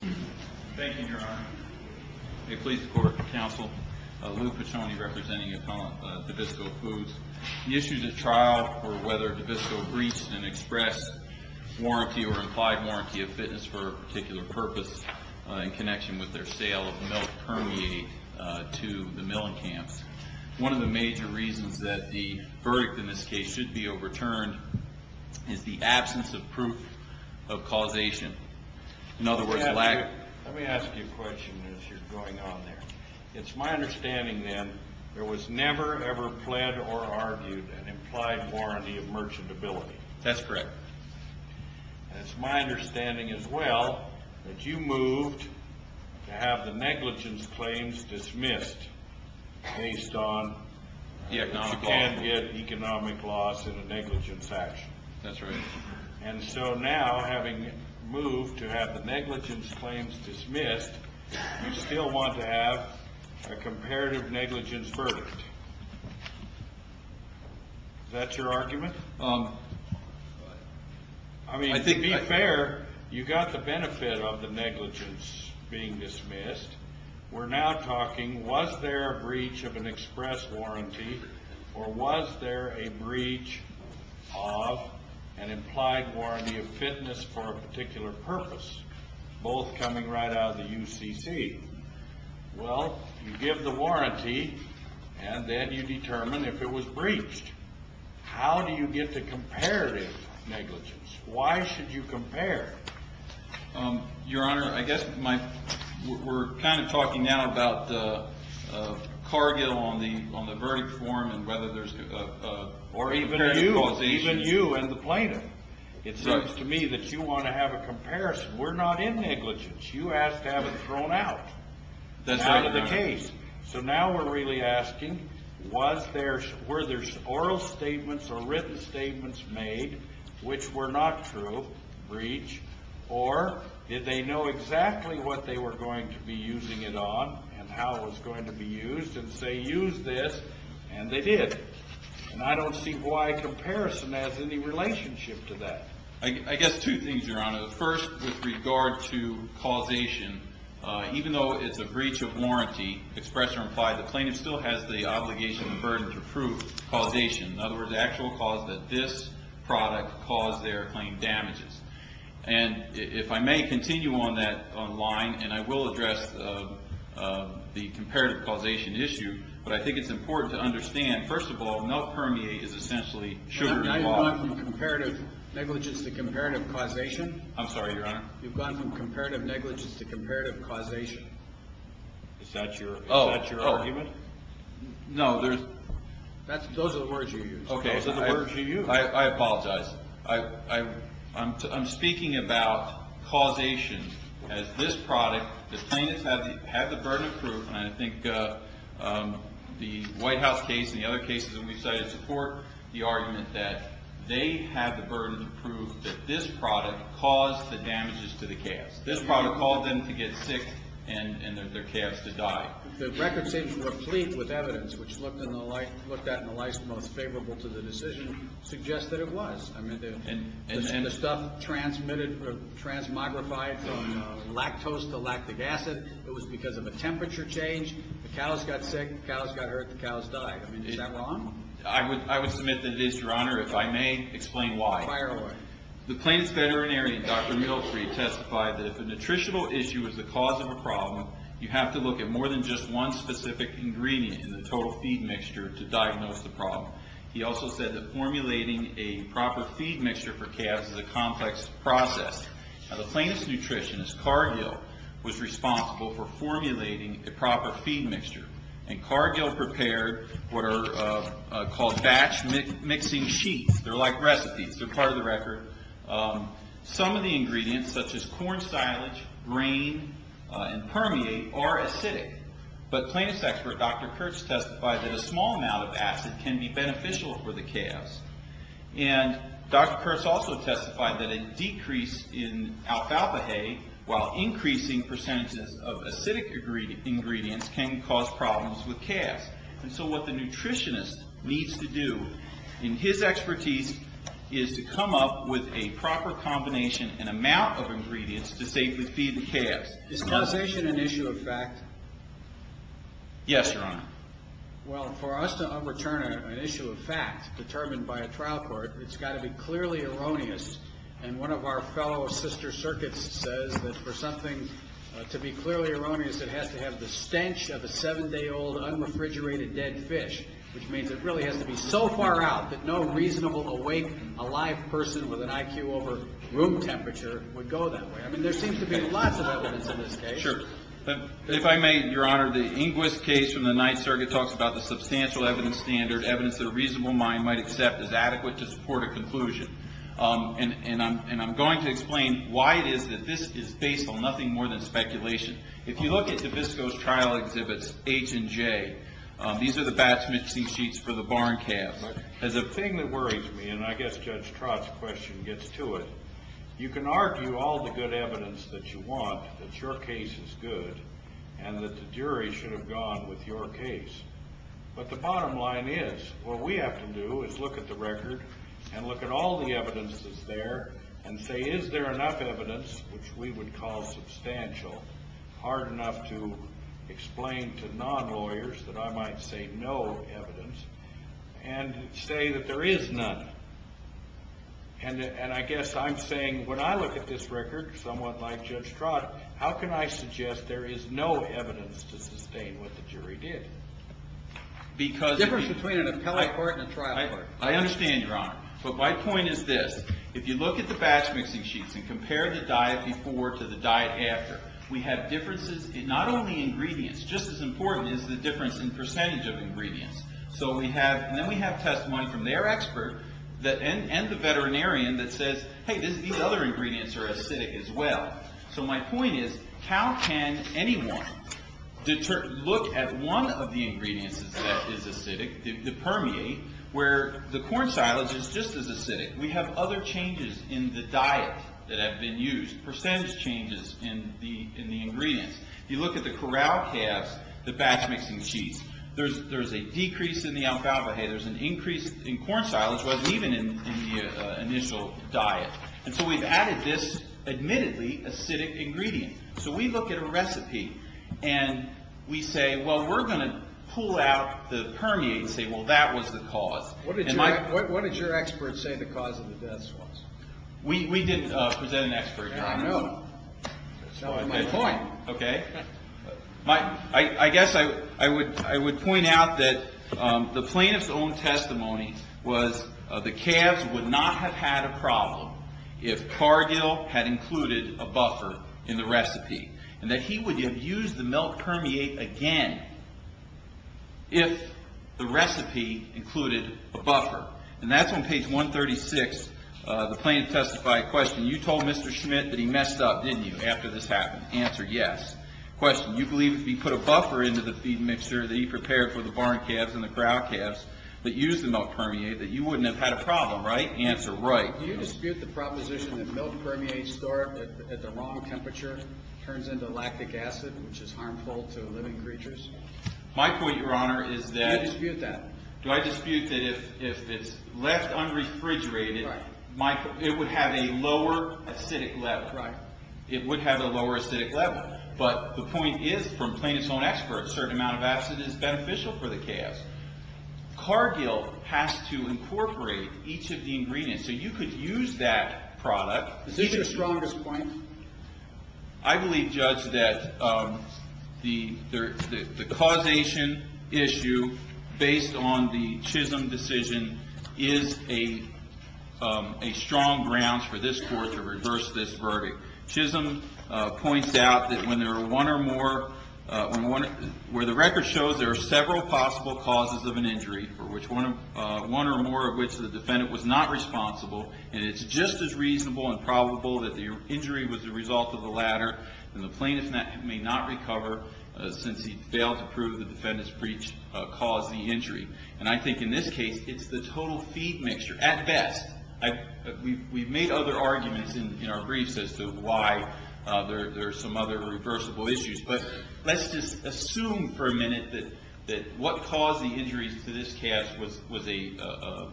Thank you, Your Honor. May it please the Court of Counsel, Lou Piccioni representing Davisco Foods. The issue is a trial for whether Davisco breached an express warranty or implied warranty of fitness for a particular purpose in connection with their sale of milk permeated to the Melenkamps. One of the major reasons that the verdict in this case should be overturned is the absence of proof of causation. Let me ask you a question as you're going on there. It's my understanding then there was never ever pled or argued an implied warranty of merchantability. That's correct. It's my understanding as well that you moved to have the negligence claims dismissed based on you can't get economic loss in a negligence action. That's right. And so now having moved to have the negligence claims dismissed, you still want to have a comparative negligence verdict. Is that your argument? I mean, to be fair, you got the benefit of the negligence being dismissed. We're now talking was there a breach of an express warranty or was there a breach of an implied warranty of fitness for a particular purpose, both coming right out of the UCC? Well, you give the warranty and then you determine if it was breached. How do you get the comparative negligence? Why should you compare? Your Honor, I guess we're kind of talking now about the target on the verdict form and whether there's a comparative causation. Or even you and the plaintiff. It seems to me that you want to have a comparison. We're not in negligence. You asked to have it thrown out. That's right, Your Honor. Out of the case. So now we're really asking were there oral statements or written statements made which were not true, breach, or did they know exactly what they were going to be using it on and how it was going to be used and say use this, and they did. And I don't see why comparison has any relationship to that. I guess two things, Your Honor. First, with regard to causation, even though it's a breach of warranty, express or implied, the plaintiff still has the obligation and burden to prove causation. In other words, the actual cause that this product caused their claim damages. And if I may continue on that line, and I will address the comparative causation issue, but I think it's important to understand, first of all, no permeate is essentially sugar and water. You've gone from comparative negligence to comparative causation? I'm sorry, Your Honor. You've gone from comparative negligence to comparative causation? Is that your argument? No. Those are the words you used. Okay. Those are the words you used. I apologize. I'm speaking about causation as this product, the plaintiff had the burden of proof, and I think the White House case and the other cases that we've cited support the argument that they had the burden of proof that this product caused the damages to the calves. This product caused them to get sick and their calves to die. The record seems replete with evidence, which looked at in the light most favorable to the decision, suggests that it was. The stuff transmogrified from lactose to lactic acid. It was because of a temperature change. The cows got sick. The cows got hurt. The cows died. Is that wrong? I would submit that it is, Your Honor. If I may explain why. Fire away. The plaintiff's veterinarian, Dr. Miltry, testified that if a nutritional issue is the cause of a problem, you have to look at more than just one specific ingredient in the total feed mixture to diagnose the problem. He also said that formulating a proper feed mixture for calves is a complex process. Now, the plaintiff's nutritionist, Cargill, was responsible for formulating a proper feed mixture, and Cargill prepared what are called batch mixing sheets. They're like recipes. They're part of the record. Some of the ingredients, such as corn silage, grain, and permeate, are acidic. But plaintiff's expert, Dr. Kurtz, testified that a small amount of acid can be beneficial for the calves. And Dr. Kurtz also testified that a decrease in alfalfa hay, while increasing percentages of acidic ingredients, can cause problems with calves. And so what the nutritionist needs to do in his expertise is to come up with a proper combination and amount of ingredients to safely feed the calves. Is causation an issue of fact? Yes, Your Honor. Well, for us to overturn an issue of fact determined by a trial court, it's got to be clearly erroneous. And one of our fellow sister circuits says that for something to be clearly erroneous, it has to have the stench of a seven-day-old, unrefrigerated dead fish, which means it really has to be so far out that no reasonable, awake, alive person with an IQ over room temperature would go that way. I mean, there seems to be lots of evidence in this case. Sure. If I may, Your Honor, the Inquis case from the ninth circuit talks about the substantial evidence standard, evidence that a reasonable mind might accept as adequate to support a conclusion. And I'm going to explain why it is that this is based on nothing more than speculation. If you look at DeVisco's trial exhibits H and J, these are the batch mixing sheets for the barn calves. The thing that worries me, and I guess Judge Trott's question gets to it, you can argue all the good evidence that you want, that your case is good, and that the jury should have gone with your case. But the bottom line is, what we have to do is look at the record and look at all the evidence that's there and say, is there enough evidence, which we would call substantial, hard enough to explain to non-lawyers that I might say no evidence, and say that there is none. And I guess I'm saying when I look at this record, somewhat like Judge Trott, how can I suggest there is no evidence to sustain what the jury did? The difference between an appellate court and a trial court. I understand, Your Honor. But my point is this. If you look at the batch mixing sheets and compare the diet before to the diet after, we have differences in not only ingredients. Just as important is the difference in percentage of ingredients. So then we have testimony from their expert and the veterinarian that says, hey, these other ingredients are acidic as well. So my point is, how can anyone look at one of the ingredients that is acidic, the permeate, where the corn silage is just as acidic. We have other changes in the diet that have been used, percentage changes in the ingredients. If you look at the corral calves, the batch mixing sheets, there's a decrease in the alfalfa. Hey, there's an increase in corn silage, wasn't even in the initial diet. And so we've added this admittedly acidic ingredient. So we look at a recipe and we say, well, we're going to pull out the permeate and say, well, that was the cause. What did your expert say the cause of the deaths was? We didn't present an expert, Your Honor. I know. That's not my point. Okay. I guess I would point out that the plaintiff's own testimony was the calves would not have had a problem if Cargill had included a buffer in the recipe and that he would have used the milk permeate again if the recipe included a buffer. And that's on page 136. The plaintiff testified, question, you told Mr. Schmidt that he messed up, didn't you, after this happened? Answer, yes. Question, you believe if he put a buffer into the feed mixer that he prepared for the barn calves and the corral calves that used the milk permeate that you wouldn't have had a problem, right? Answer, right. Do you dispute the proposition that milk permeates at the wrong temperature, turns into lactic acid, which is harmful to living creatures? My point, Your Honor, is that— Do you dispute that? Do I dispute that if it's left unrefrigerated, it would have a lower acidic level? Right. It would have a lower acidic level. But the point is, from plaintiff's own expert, a certain amount of acid is beneficial for the calves. Cargill has to incorporate each of the ingredients. So you could use that product— Is this your strongest point? I believe, Judge, that the causation issue based on the Chisholm decision is a strong ground for this Court to reverse this verdict. Chisholm points out that when there are one or more— one or more of which the defendant was not responsible, and it's just as reasonable and probable that the injury was the result of the latter, then the plaintiff may not recover since he failed to prove the defendant's preach caused the injury. And I think in this case, it's the total feed mixture, at best. We've made other arguments in our briefs as to why there are some other reversible issues. But let's just assume for a minute that what caused the injuries to this calf was a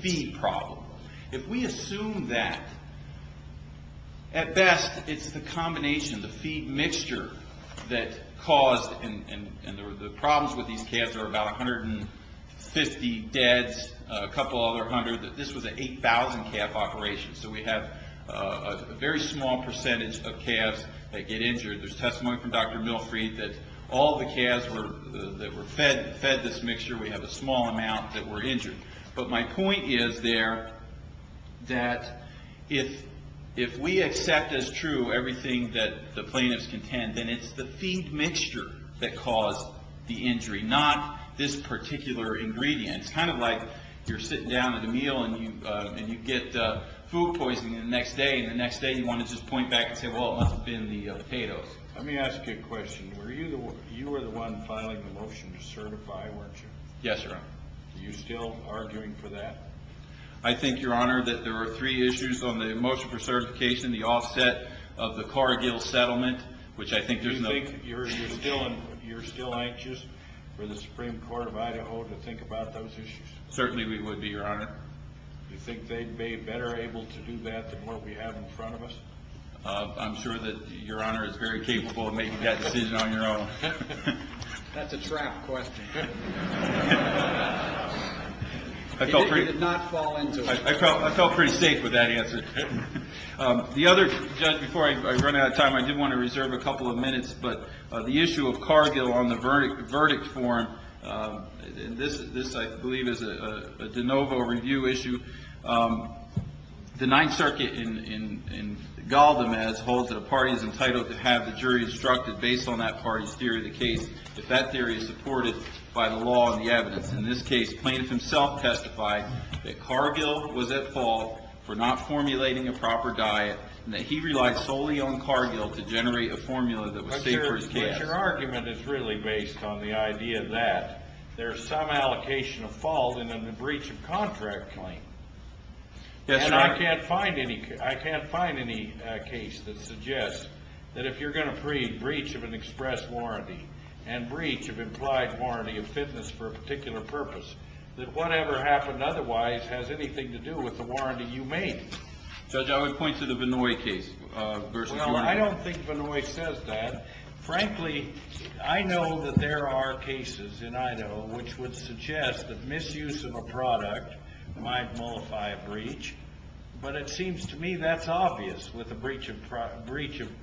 feed problem. If we assume that, at best, it's the combination, the feed mixture that caused— and the problems with these calves are about 150 deads, a couple other hundred. This was an 8,000-calf operation. So we have a very small percentage of calves that get injured. There's testimony from Dr. Milfreid that all the calves that were fed this mixture, we have a small amount that were injured. But my point is there that if we accept as true everything that the plaintiffs contend, then it's the feed mixture that caused the injury, not this particular ingredient. It's kind of like you're sitting down at a meal and you get food poisoning the next day, and the next day you want to just point back and say, well, it must have been the potatoes. Let me ask you a question. You were the one filing the motion to certify, weren't you? Yes, Your Honor. Are you still arguing for that? I think, Your Honor, that there were three issues on the motion for certification, the offset of the Corregill settlement, which I think there's no— Do you think you're still anxious for the Supreme Court of Idaho to think about those issues? Certainly we would be, Your Honor. Do you think they'd be better able to do that than what we have in front of us? I'm sure that Your Honor is very capable of making that decision on your own. That's a trap question. It did not fall into it. I felt pretty safe with that answer. The other—Judge, before I run out of time, I did want to reserve a couple of minutes, but the issue of Corregill on the verdict form, and this, I believe, is a de novo review issue. The Ninth Circuit in Galdemez holds that a party is entitled to have the jury instructed, based on that party's theory of the case, if that theory is supported by the law and the evidence. In this case, plaintiff himself testified that Corregill was at fault for not formulating a proper diet and that he relied solely on Corregill to generate a formula that was safe for his case. Your argument is really based on the idea that there's some allocation of fault in a breach of contract claim. Yes, Your Honor. And I can't find any case that suggests that if you're going to plead breach of an express warranty and breach of implied warranty of fitness for a particular purpose, that whatever happened otherwise has anything to do with the warranty you made. Judge, I would point to the Benoist case. Well, I don't think Benoist says that. Frankly, I know that there are cases in Idaho which would suggest that misuse of a product might nullify a breach, but it seems to me that's obvious with a breach of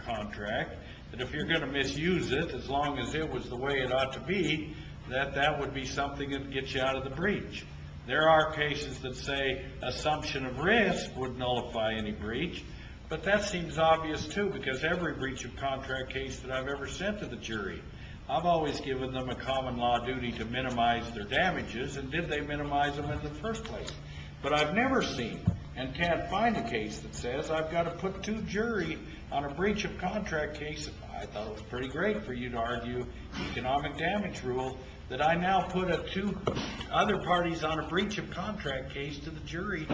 contract, that if you're going to misuse it, as long as it was the way it ought to be, that that would be something that would get you out of the breach. There are cases that say assumption of risk would nullify any breach, but that seems obvious too because every breach of contract case that I've ever sent to the jury, I've always given them a common law duty to minimize their damages, and did they minimize them in the first place? But I've never seen and can't find a case that says I've got to put two jury on a breach of contract case. I thought it was pretty great for you to argue economic damage rule that I now put two other parties on a breach of contract case to the jury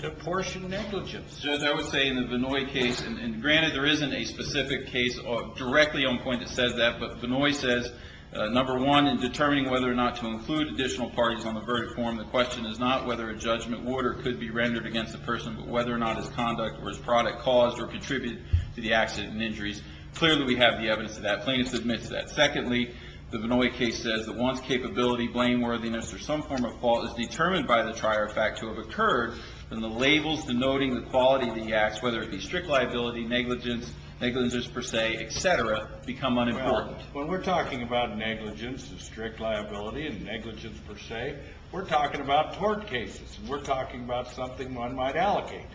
to apportion negligence. Judge, I would say in the Benoist case, and granted there isn't a specific case directly on point that says that, but Benoist says, number one, in determining whether or not to include additional parties on the verdict form, the question is not whether a judgment order could be rendered against the person, but whether or not his conduct or his product caused or contributed to the accident and injuries. Clearly, we have the evidence of that. Plaintiff admits that. Secondly, the Benoist case says that once capability, blameworthiness, or some form of fault is determined by the trier of fact to have occurred, then the labels denoting the quality of the acts, whether it be strict liability, negligence, negligence per se, et cetera, become unimportant. Well, when we're talking about negligence and strict liability and negligence per se, we're talking about tort cases, and we're talking about something one might allocate,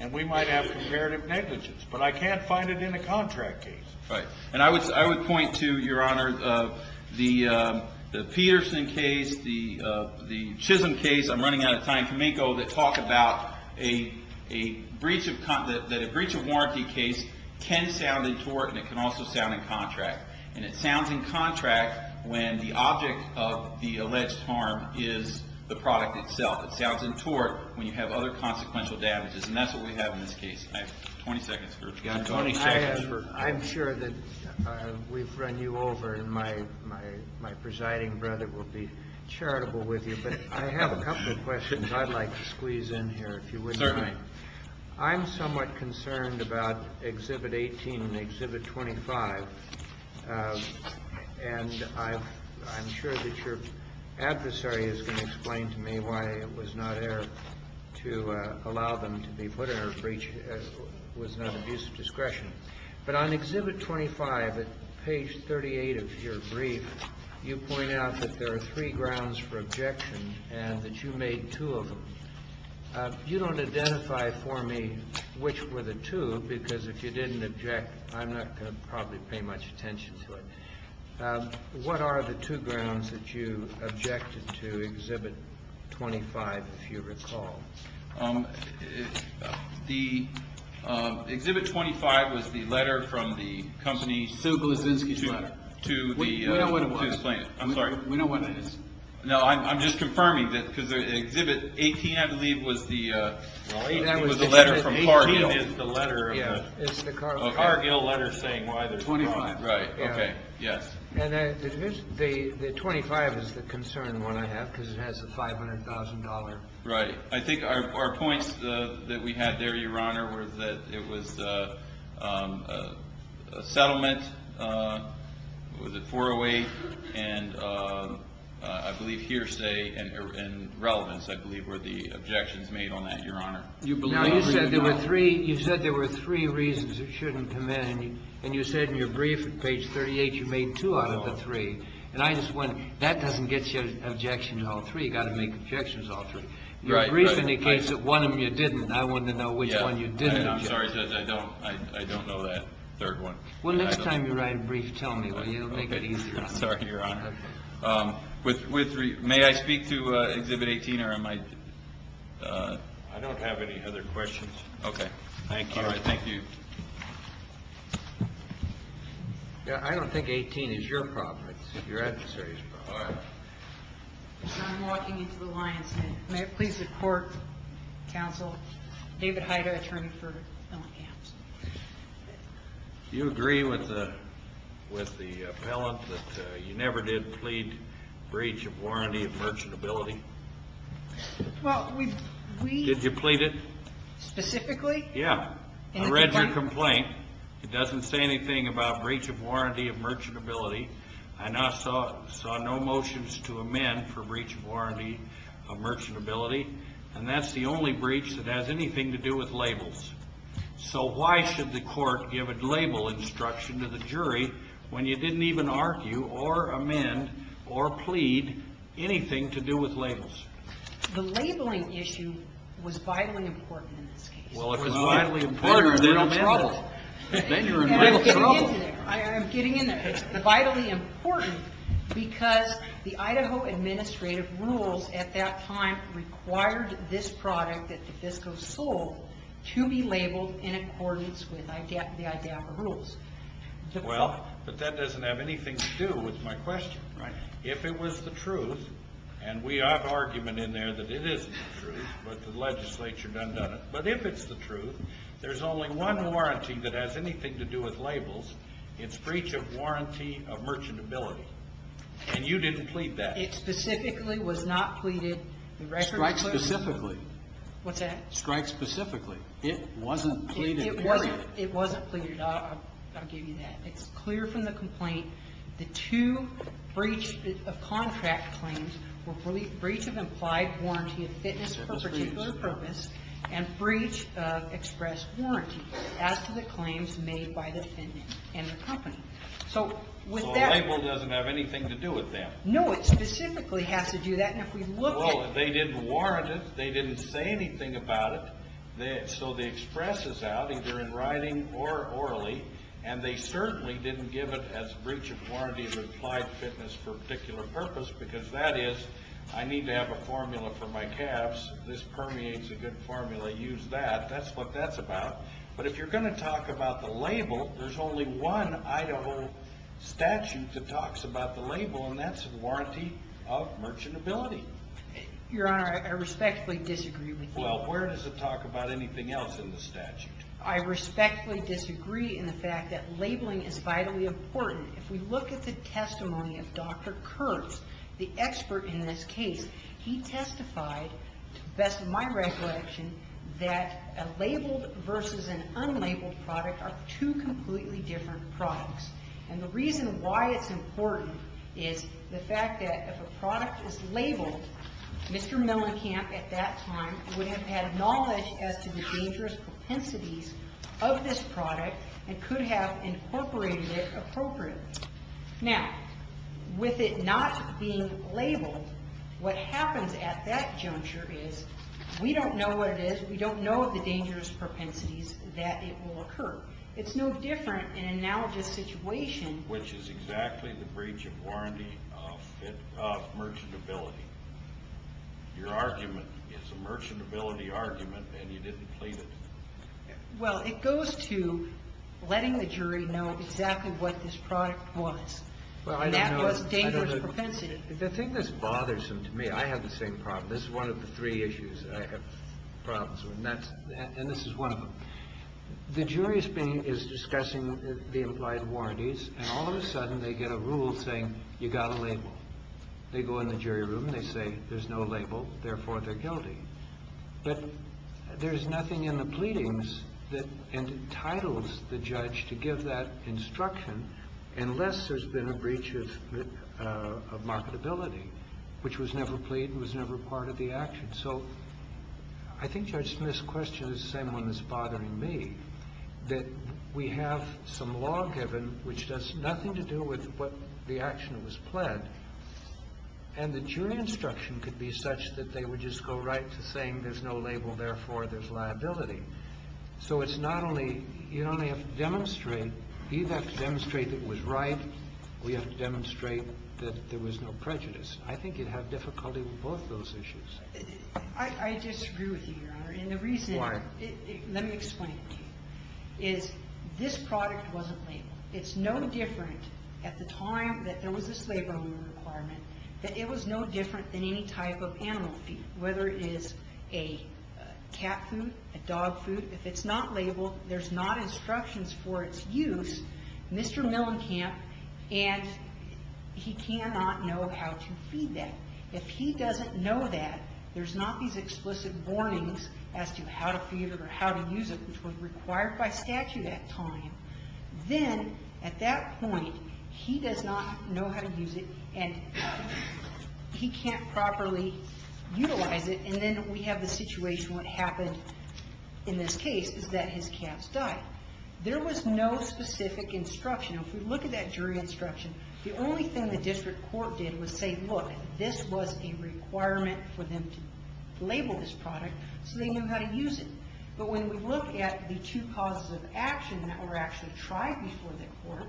and we might have comparative negligence, but I can't find it in a contract case. Right. And I would point to, Your Honor, the Peterson case, the Chisholm case. I'm running out of time. Can we go to talk about a breach of warranty case can sound in tort, and it can also sound in contract. And it sounds in contract when the object of the alleged harm is the product itself. It sounds in tort when you have other consequential damages, and that's what we have in this case. I have 20 seconds for it. I'm sure that we've run you over, and my presiding brother will be charitable with you, but I have a couple of questions I'd like to squeeze in here, if you wouldn't mind. Certainly. I'm somewhat concerned about Exhibit 18 and Exhibit 25, and I'm sure that your adversary is going to explain to me why it was not air to allow them to be put in a breach that was not abuse of discretion. But on Exhibit 25, at page 38 of your brief, you point out that there are three grounds for objection and that you made two of them. You don't identify for me which were the two, because if you didn't object, I'm not going to probably pay much attention to it. What are the two grounds that you objected to, Exhibit 25, if you recall? The Exhibit 25 was the letter from the company to explain it. We know what it was. I'm sorry. We know what it is. No, I'm just confirming, because Exhibit 18, I believe, was the letter from Cargill. 18 is the letter of the Cargill letter saying why there's a problem. 25. Right, okay, yes. And the 25 is the concern one I have, because it has the $500,000. Right. I think our points that we had there, Your Honor, was that it was a settlement. Was it 408? And I believe hearsay and relevance, I believe, were the objections made on that, Your Honor. Now, you said there were three reasons it shouldn't come in. And you said in your brief at page 38 you made two out of the three. And I just wondered, that doesn't get you an objection to all three. You've got to make objections to all three. In your brief, in the case of one of them you didn't, I wanted to know which one you didn't object to. I'm sorry, Judge, I don't know that third one. Well, next time you write a brief, tell me. It will make it easier. I'm sorry, Your Honor. May I speak to Exhibit 18? I don't have any other questions. Okay. Thank you. All right, thank you. I don't think 18 is your problem. It's your adversary's problem. I'm walking into the lion's den. May it please the Court, David Heider, attorney for Appellant Counsel. Do you agree with the appellant that you never did plead breach of warranty of merchantability? Did you plead it? Specifically? Yeah. I read your complaint. It doesn't say anything about breach of warranty of merchantability. I saw no motions to amend for breach of warranty of merchantability. And that's the only breach that has anything to do with labels. So why should the Court give a label instruction to the jury when you didn't even argue or amend or plead anything to do with labels? The labeling issue was vitally important in this case. Well, if it was vitally important, then you're in trouble. Then you're in real trouble. I'm getting into there. I'm getting in there. It's vitally important because the Idaho administrative rules at that time required this product that Defisco sold to be labeled in accordance with the IDAFA rules. Well, but that doesn't have anything to do with my question. Right. If it was the truth, and we have argument in there that it isn't the truth, but the legislature done done it. But if it's the truth, there's only one warranty that has anything to do with labels. It's breach of warranty of merchantability. And you didn't plead that. It specifically was not pleaded. Strike specifically. What's that? Strike specifically. It wasn't pleaded, period. It wasn't pleaded. I'll give you that. It's clear from the complaint. The two breach of contract claims were breach of implied warranty of fitness for a particular and breach of express warranty as to the claims made by the defendant and the company. So with that... So the label doesn't have anything to do with that. No, it specifically has to do that. And if we look at... Well, they didn't warrant it. They didn't say anything about it. So the express is out either in writing or orally. And they certainly didn't give it as breach of warranty of implied fitness for a particular purpose because that is I need to have a formula for my calves. This permeates a good formula. Use that. That's what that's about. But if you're going to talk about the label, there's only one Idaho statute that talks about the label, and that's warranty of merchantability. Your Honor, I respectfully disagree with you. Well, where does it talk about anything else in the statute? I respectfully disagree in the fact that labeling is vitally important. If we look at the testimony of Dr. Kurtz, the expert in this case, he testified, to the best of my recollection, that a labeled versus an unlabeled product are two completely different products. And the reason why it's important is the fact that if a product is labeled, Mr. Mellencamp at that time would have had knowledge as to the dangerous propensities of this product and could have incorporated it appropriately. Now, with it not being labeled, what happens at that juncture is we don't know what it is, we don't know the dangerous propensities that it will occur. It's no different in an analogous situation. Which is exactly the breach of warranty of merchantability. Your argument is a merchantability argument and you didn't plead it. Well, it goes to letting the jury know exactly what this product was. And that was dangerous propensity. The thing that's bothersome to me, I have the same problem. This is one of the three issues that I have problems with. And this is one of them. The jury is discussing the implied warranties and all of a sudden they get a rule saying you got a label. They go in the jury room and they say there's no label, therefore they're guilty. But there's nothing in the pleadings that entitles the judge to give that instruction unless there's been a breach of marketability, which was never plead and was never part of the action. So I think, Judge Smith, this question is the same one that's bothering me, that we have some law given which does nothing to do with what the action was pled. And the jury instruction could be such that they would just go right to saying there's no label, therefore there's liability. So it's not only you don't have to demonstrate. You have to demonstrate it was right. We have to demonstrate that there was no prejudice. I think you'd have difficulty with both those issues. I just agree with you, Your Honor. Why? And the reason, let me explain it to you, is this product wasn't labeled. It's no different at the time that there was this label requirement, that it was no different than any type of animal feed, whether it is a cat food, a dog food. If it's not labeled, there's not instructions for its use, Mr. Millenkamp, and he cannot know how to feed that. If he doesn't know that, there's not these explicit warnings as to how to feed it or how to use it, which were required by statute at the time. Then, at that point, he does not know how to use it, and he can't properly utilize it, and then we have the situation what happened in this case is that his cats died. There was no specific instruction. If we look at that jury instruction, the only thing the district court did was say, look, this was a requirement for them to label this product so they knew how to use it. But when we look at the two causes of action that were actually tried before the court,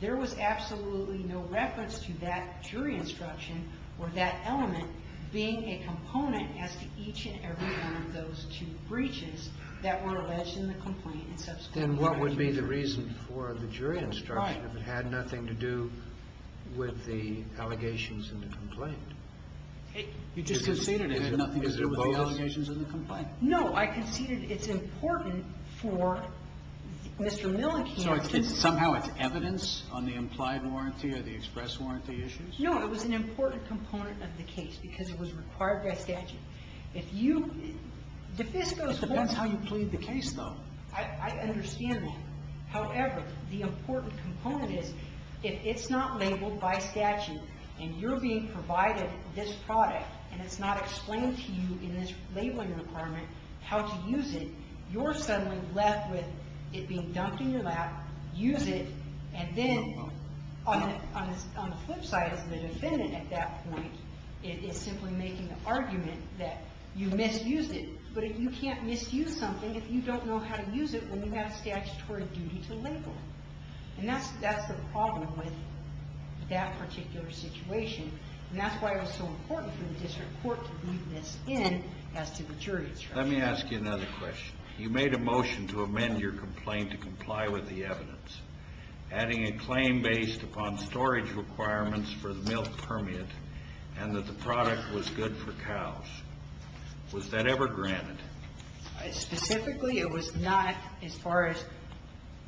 there was absolutely no reference to that jury instruction or that element being a component as to each and every one of those two breaches that were alleged in the complaint and subsequently denied to the jury. Then what would be the reason for the jury instruction if it had nothing to do with the allegations in the complaint? You just conceded it had nothing to do with the allegations in the complaint. No. I conceded it's important for Mr. Milliken. So somehow it's evidence on the implied warranty or the express warranty issues? No. It was an important component of the case because it was required by statute. If you ---- It depends how you plead the case, though. I understand that. However, the important component is if it's not labeled by statute and you're being provided this product and it's not explained to you in this labeling requirement how to use it, you're suddenly left with it being dumped in your lap, use it, and then on the flip side as the defendant at that point is simply making the argument that you misused it. But you can't misuse something if you don't know how to use it when you have statutory duty to label it. And that's the problem with that particular situation. And that's why it was so important for the district court to weave this in as to the jury instruction. Let me ask you another question. You made a motion to amend your complaint to comply with the evidence, adding a claim based upon storage requirements for the milk permeant and that the product was good for cows. Was that ever granted? Specifically, it was not as far as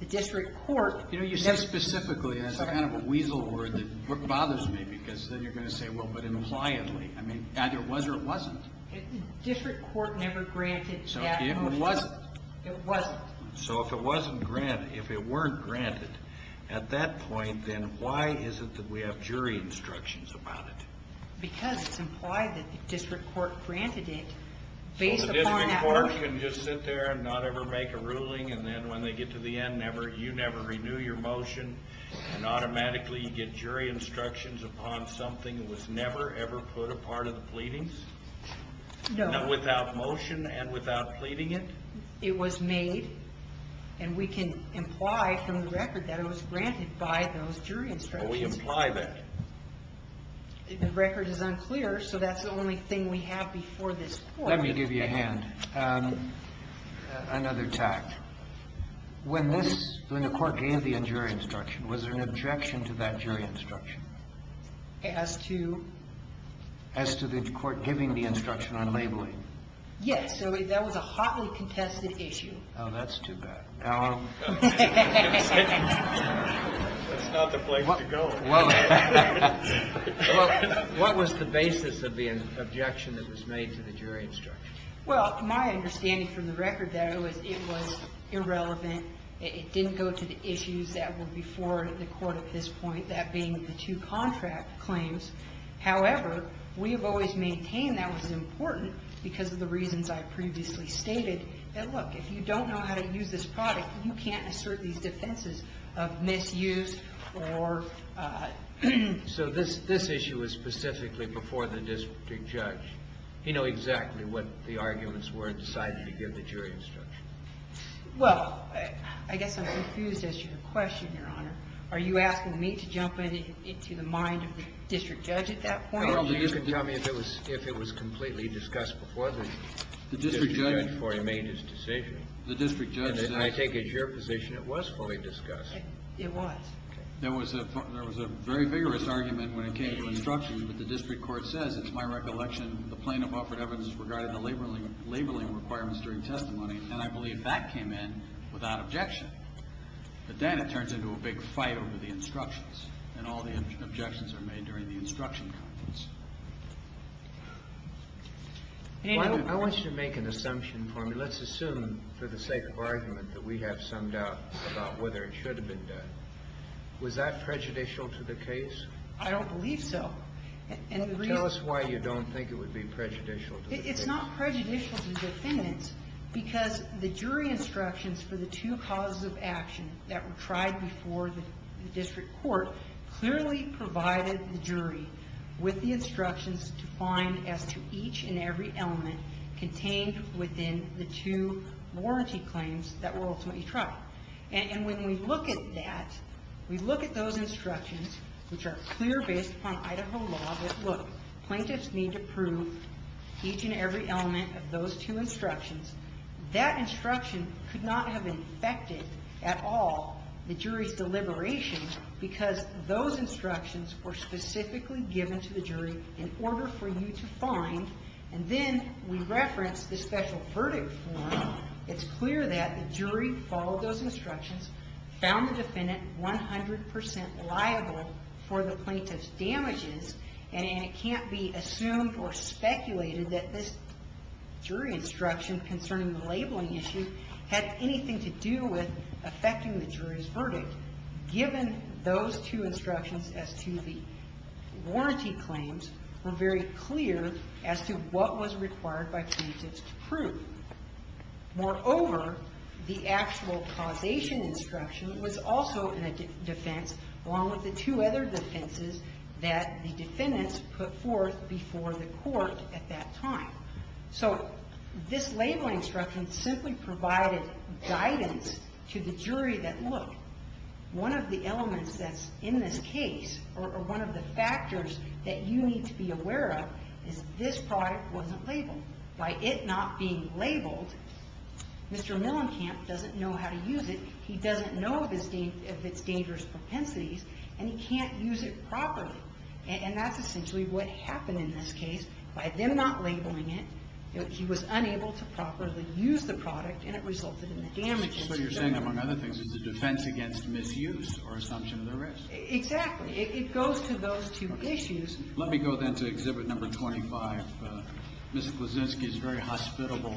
the district court ---- You know, you said specifically. That's kind of a weasel word that bothers me because then you're going to say, well, but impliedly. I mean, either it was or it wasn't. The district court never granted that motion. It wasn't. It wasn't. So if it wasn't granted, if it weren't granted at that point, then why is it that we have jury instructions about it? Because it's implied that the district court granted it based upon that ---- The district court can just sit there and not ever make a ruling and then when they get to the end, you never renew your motion and automatically you get jury instructions upon something that was never ever put apart of the pleadings? No. Not without motion and without pleading it? It was made, and we can imply from the record that it was granted by those jury instructions. We imply that. The record is unclear, so that's the only thing we have before this court. Let me give you a hand. Another tact. When this ---- when the court gave the jury instruction, was there an objection to that jury instruction? As to? As to the court giving the instruction on labeling. Yes. That was a hotly contested issue. Oh, that's too bad. That's not the place to go. What was the basis of the objection that was made to the jury instruction? Well, my understanding from the record there was it was irrelevant. It didn't go to the issues that were before the court at this point, that being the two contract claims. However, we have always maintained that was important because of the reasons I previously stated that, look, if you don't know how to use this product, you can't assert these defenses of misuse or ---- So this issue was specifically before the district judge. He knew exactly what the arguments were and decided to give the jury instruction. Well, I guess I'm confused as to your question, Your Honor. Are you asking me to jump into the mind of the district judge at that point? Well, you can tell me if it was completely discussed before the district judge made his decision. The district judge says ---- And I think it's your position it was fully discussed. It was. There was a very vigorous argument when it came to instruction, but the district court says it's my recollection the plaintiff offered evidence regarding the labeling requirements during testimony, and I believe that came in without objection. But then it turns into a big fight over the instructions, and all the objections are made during the instruction conference. I want you to make an assumption for me. Let's assume for the sake of argument that we have some doubt about whether it should have been done. Was that prejudicial to the case? I don't believe so. Tell us why you don't think it would be prejudicial to the case. It's not prejudicial to the defendants because the jury instructions for the two causes of action that were tried before the district court clearly provided the jury with the instructions to find as to each and every element contained within the two warranty claims that were ultimately tried. And when we look at that, we look at those instructions, which are clear based upon Idaho law that, look, plaintiffs need to prove each and every element of those two instructions. That instruction could not have infected at all the jury's deliberations because those instructions were specifically given to the jury in order for you to find. And then we reference the special verdict form. It's clear that the jury followed those instructions, found the defendant 100% liable for the plaintiff's damages, and it can't be assumed or speculated that this jury instruction concerning the labeling issue had anything to do with affecting the jury's verdict. Given those two instructions as to the warranty claims, we're very clear as to what was required by plaintiffs to prove. Moreover, the actual causation instruction was also in a defense along with the two other defenses that the defendants put forth before the court at that time. So this labeling instruction simply provided guidance to the jury that, look, one of the elements that's in this case or one of the factors that you need to be aware of is the fact that the defendant was labeled. Mr. Millenkamp doesn't know how to use it. He doesn't know of its dangerous propensities, and he can't use it properly. And that's essentially what happened in this case. By them not labeling it, he was unable to properly use the product, and it resulted in the damages. So you're saying, among other things, it's a defense against misuse or assumption of the risk. Exactly. So it goes to those two issues. Let me go then to Exhibit Number 25, Ms. Klusinski's very hospitable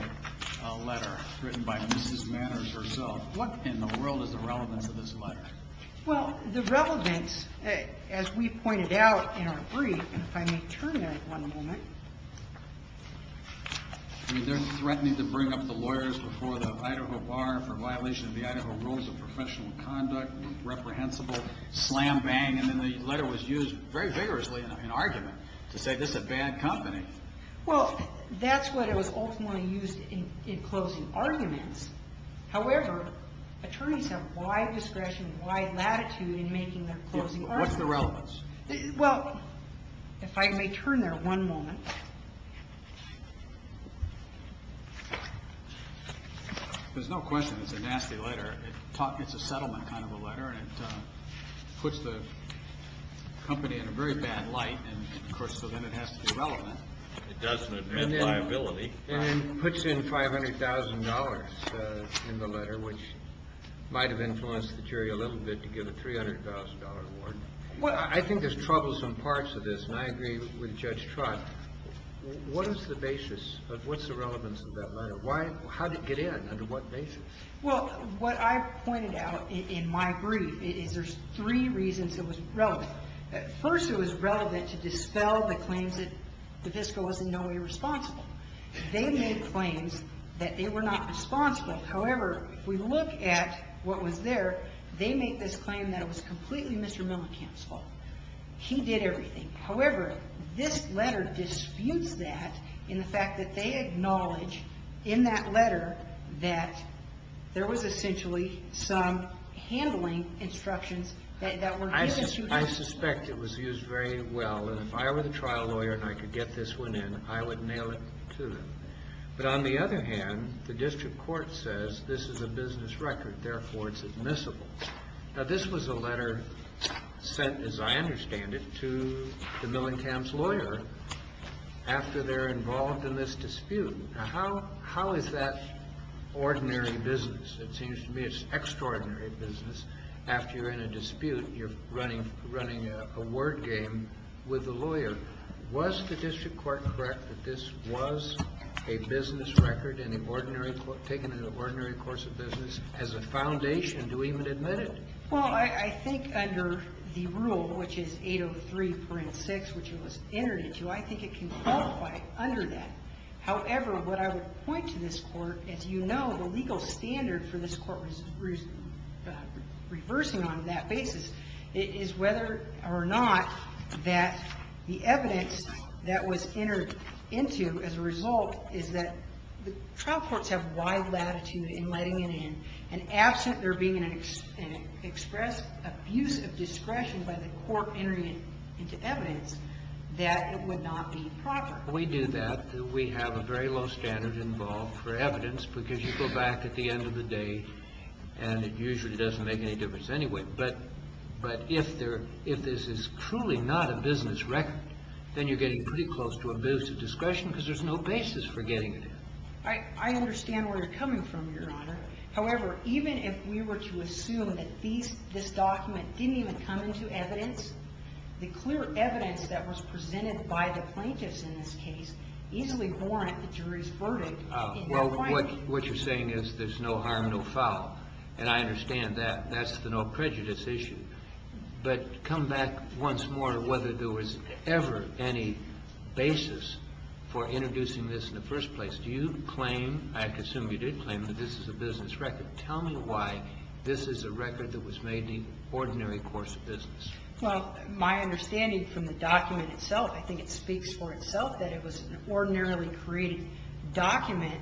letter written by Mrs. Manners herself. What in the world is the relevance of this letter? Well, the relevance, as we pointed out in our brief, and if I may turn there one moment. They're threatening to bring up the lawyers before the Idaho Bar for violation of the Idaho Rules of Professional Conduct, reprehensible slam bang. And then the letter was used very vigorously in argument to say this is a bad company. Well, that's what it was ultimately used in closing arguments. However, attorneys have wide discretion, wide latitude in making their closing arguments. What's the relevance? Well, if I may turn there one moment. There's no question it's a nasty letter. It's a settlement kind of a letter, and it puts the company in a very bad light. And, of course, so then it has to be relevant. It doesn't admit liability. And then puts in $500,000 in the letter, which might have influenced the jury a little bit to give a $300,000 award. Well, I think there's troublesome parts of this, and I agree with Judge Trott. What is the basis? What's the relevance of that letter? How did it get in? Under what basis? Well, what I pointed out in my brief is there's three reasons it was relevant. First, it was relevant to dispel the claims that the fiscal was in no way responsible. They made claims that they were not responsible. However, if we look at what was there, they made this claim that it was completely Mr. Mellencamp's fault. He did everything. However, this letter disputes that in the fact that they acknowledge in that letter that there was essentially some handling instructions that were given to them. I suspect it was used very well, and if I were the trial lawyer and I could get this one in, I would nail it to them. But on the other hand, the district court says this is a business record, therefore it's admissible. Now, this was a letter sent, as I understand it, to the Mellencamp's lawyer after they're involved in this dispute. Now, how is that ordinary business? It seems to me it's extraordinary business after you're in a dispute and you're running a word game with the lawyer. Was the district court correct that this was a business record and an ordinary course of business as a foundation to even admit it? Well, I think under the rule, which is 803.6, which it was entered into, I think it can qualify under that. However, what I would point to this Court, as you know, the legal standard for this Court was reversing on that basis, is whether or not that the evidence that was entered into as a result is that the trial courts have wide latitude in letting it in, and absent there being an express abuse of discretion by the court entering it into evidence, that it would not be proper. We do that. We have a very low standard involved for evidence because you go back at the end of the day and it usually doesn't make any difference anyway. But if this is truly not a business record, then you're getting pretty close to express abuse of discretion because there's no basis for getting it in. I understand where you're coming from, Your Honor. However, even if we were to assume that this document didn't even come into evidence, the clear evidence that was presented by the plaintiffs in this case easily warrant the jury's verdict. Well, what you're saying is there's no harm, no foul. And I understand that. That's the no prejudice issue. But come back once more to whether there was ever any basis for introducing this in the first place. Do you claim, I assume you did claim, that this is a business record. Tell me why this is a record that was made in the ordinary course of business. Well, my understanding from the document itself, I think it speaks for itself, that it was an ordinarily created document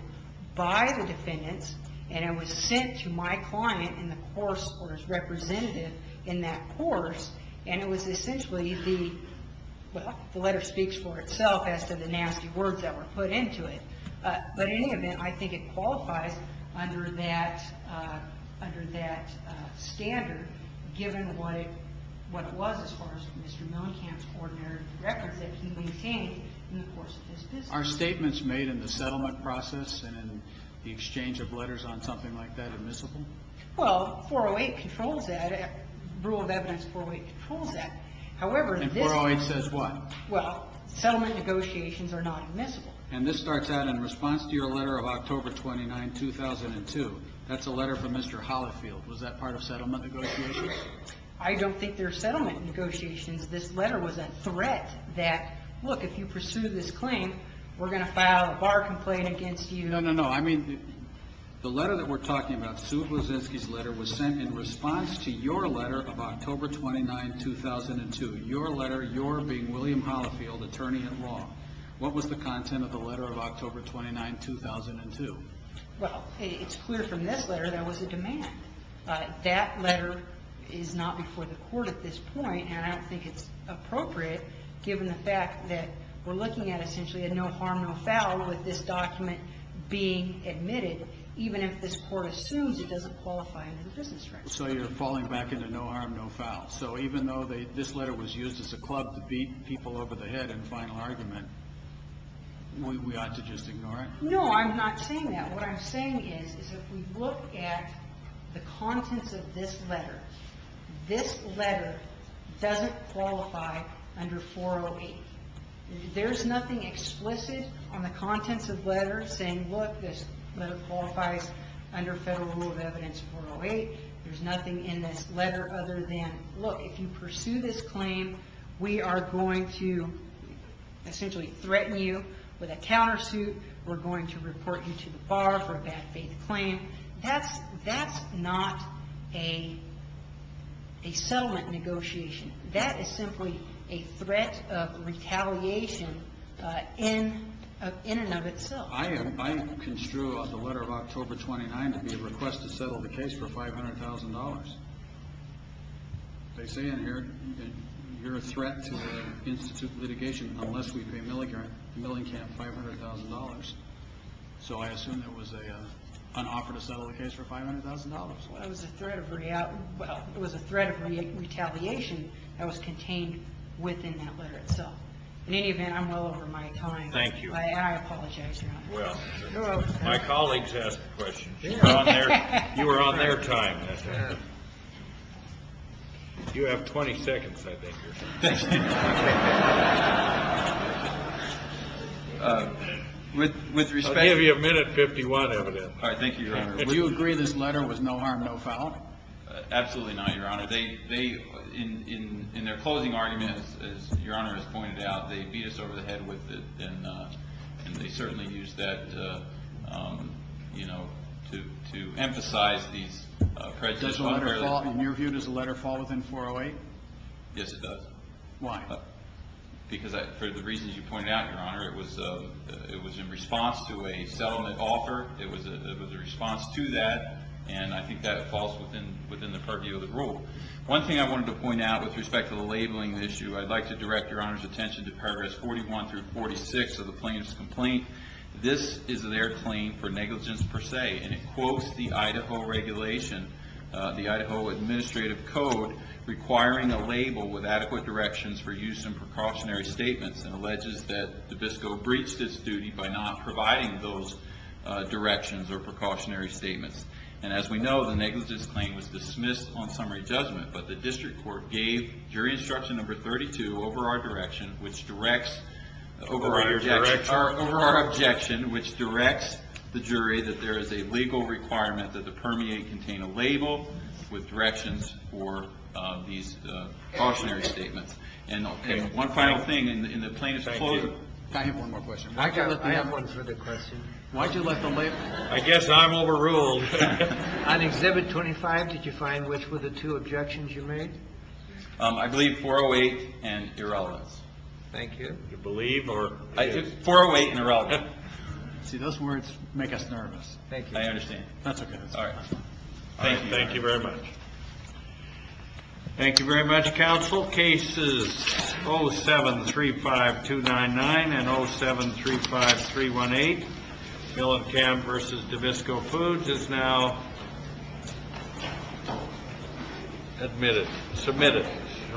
by the defendants, and it was sent to my client in the course or his representative in that course. And it was essentially the letter speaks for itself as to the nasty words that were put into it. But in any event, I think it qualifies under that standard, given what it was as far as Mr. Millenkamp's ordinary records that he maintained in the course of his business. Are statements made in the settlement process and in the exchange of letters on something like that admissible? Well, 408 controls that. Rule of evidence 408 controls that. And 408 says what? Well, settlement negotiations are not admissible. And this starts out in response to your letter of October 29, 2002. That's a letter from Mr. Holifield. Was that part of settlement negotiations? I don't think they're settlement negotiations. This letter was a threat that, look, if you pursue this claim, we're going to file a bar complaint against you. No, no, no, no. I mean, the letter that we're talking about, Sue Blasinski's letter, was sent in response to your letter of October 29, 2002. Your letter, your being William Holifield, attorney-at-law. What was the content of the letter of October 29, 2002? Well, it's clear from this letter there was a demand. That letter is not before the court at this point, and I don't think it's appropriate, given the fact that we're looking at essentially a no harm, no foul with this document being admitted, even if this court assumes it doesn't qualify under the business rights. So you're falling back into no harm, no foul. So even though this letter was used as a club to beat people over the head in final argument, we ought to just ignore it? No, I'm not saying that. What I'm saying is, is if we look at the contents of this letter, this letter doesn't qualify under 408. There's nothing explicit on the contents of the letter saying, look, this letter qualifies under federal rule of evidence 408. There's nothing in this letter other than, look, if you pursue this claim, we are going to essentially threaten you with a countersuit. We're going to report you to the bar for a bad faith claim. That's not a settlement negotiation. That is simply a threat of retaliation in and of itself. I construe the letter of October 29 to be a request to settle the case for $500,000. They say in here, you're a threat to the institute litigation unless we pay Milling Camp $500,000. So I assume it was an offer to settle the case for $500,000. It was a threat of retaliation that was contained within that letter itself. In any event, I'm well over my time. Thank you. I apologize. Well, my colleagues asked the question. You were on their time. You have 20 seconds, I think. I'll give you a minute 51, evidently. All right. Thank you, Your Honor. Do you agree this letter was no harm, no foul? Absolutely not, Your Honor. In their closing argument, as Your Honor has pointed out, they beat us over the head with it, and they certainly used that to emphasize these prejudices. In your view, does the letter fall within 408? Yes, it does. Why? Because for the reasons you pointed out, Your Honor, it was in response to a settlement offer. It was a response to that, and I think that falls within the purview of the rule. One thing I wanted to point out with respect to the labeling issue, I'd like to direct Your Honor's attention to paragraphs 41 through 46 of the plaintiff's complaint. This is their claim for negligence per se, and it quotes the Idaho regulation, the Idaho Administrative Code, requiring a label with adequate directions for use in precautionary statements, and alleges that Dubisco breached its duty by not providing those directions or precautionary statements. As we know, the negligence claim was dismissed on summary judgment, but the district court gave jury instruction number 32 over our objection, which directs the jury that there is a legal requirement that the permeate contain a label with directions for these precautionary statements. One final thing, in the plaintiff's complaint... I have one more question. I have one further question. Why'd you let them label it? I guess I'm overruled. On Exhibit 25, did you find which were the two objections you made? I believe 408 and irrelevance. Thank you. You believe or... 408 and irrelevance. See, those words make us nervous. Thank you. I understand. That's okay. All right. Thank you. Thank you very much. Thank you very much, counsel. Cases 07-35299 and 07-35318, Millicamp v. Dubisco Foods, is now admitted...submitted.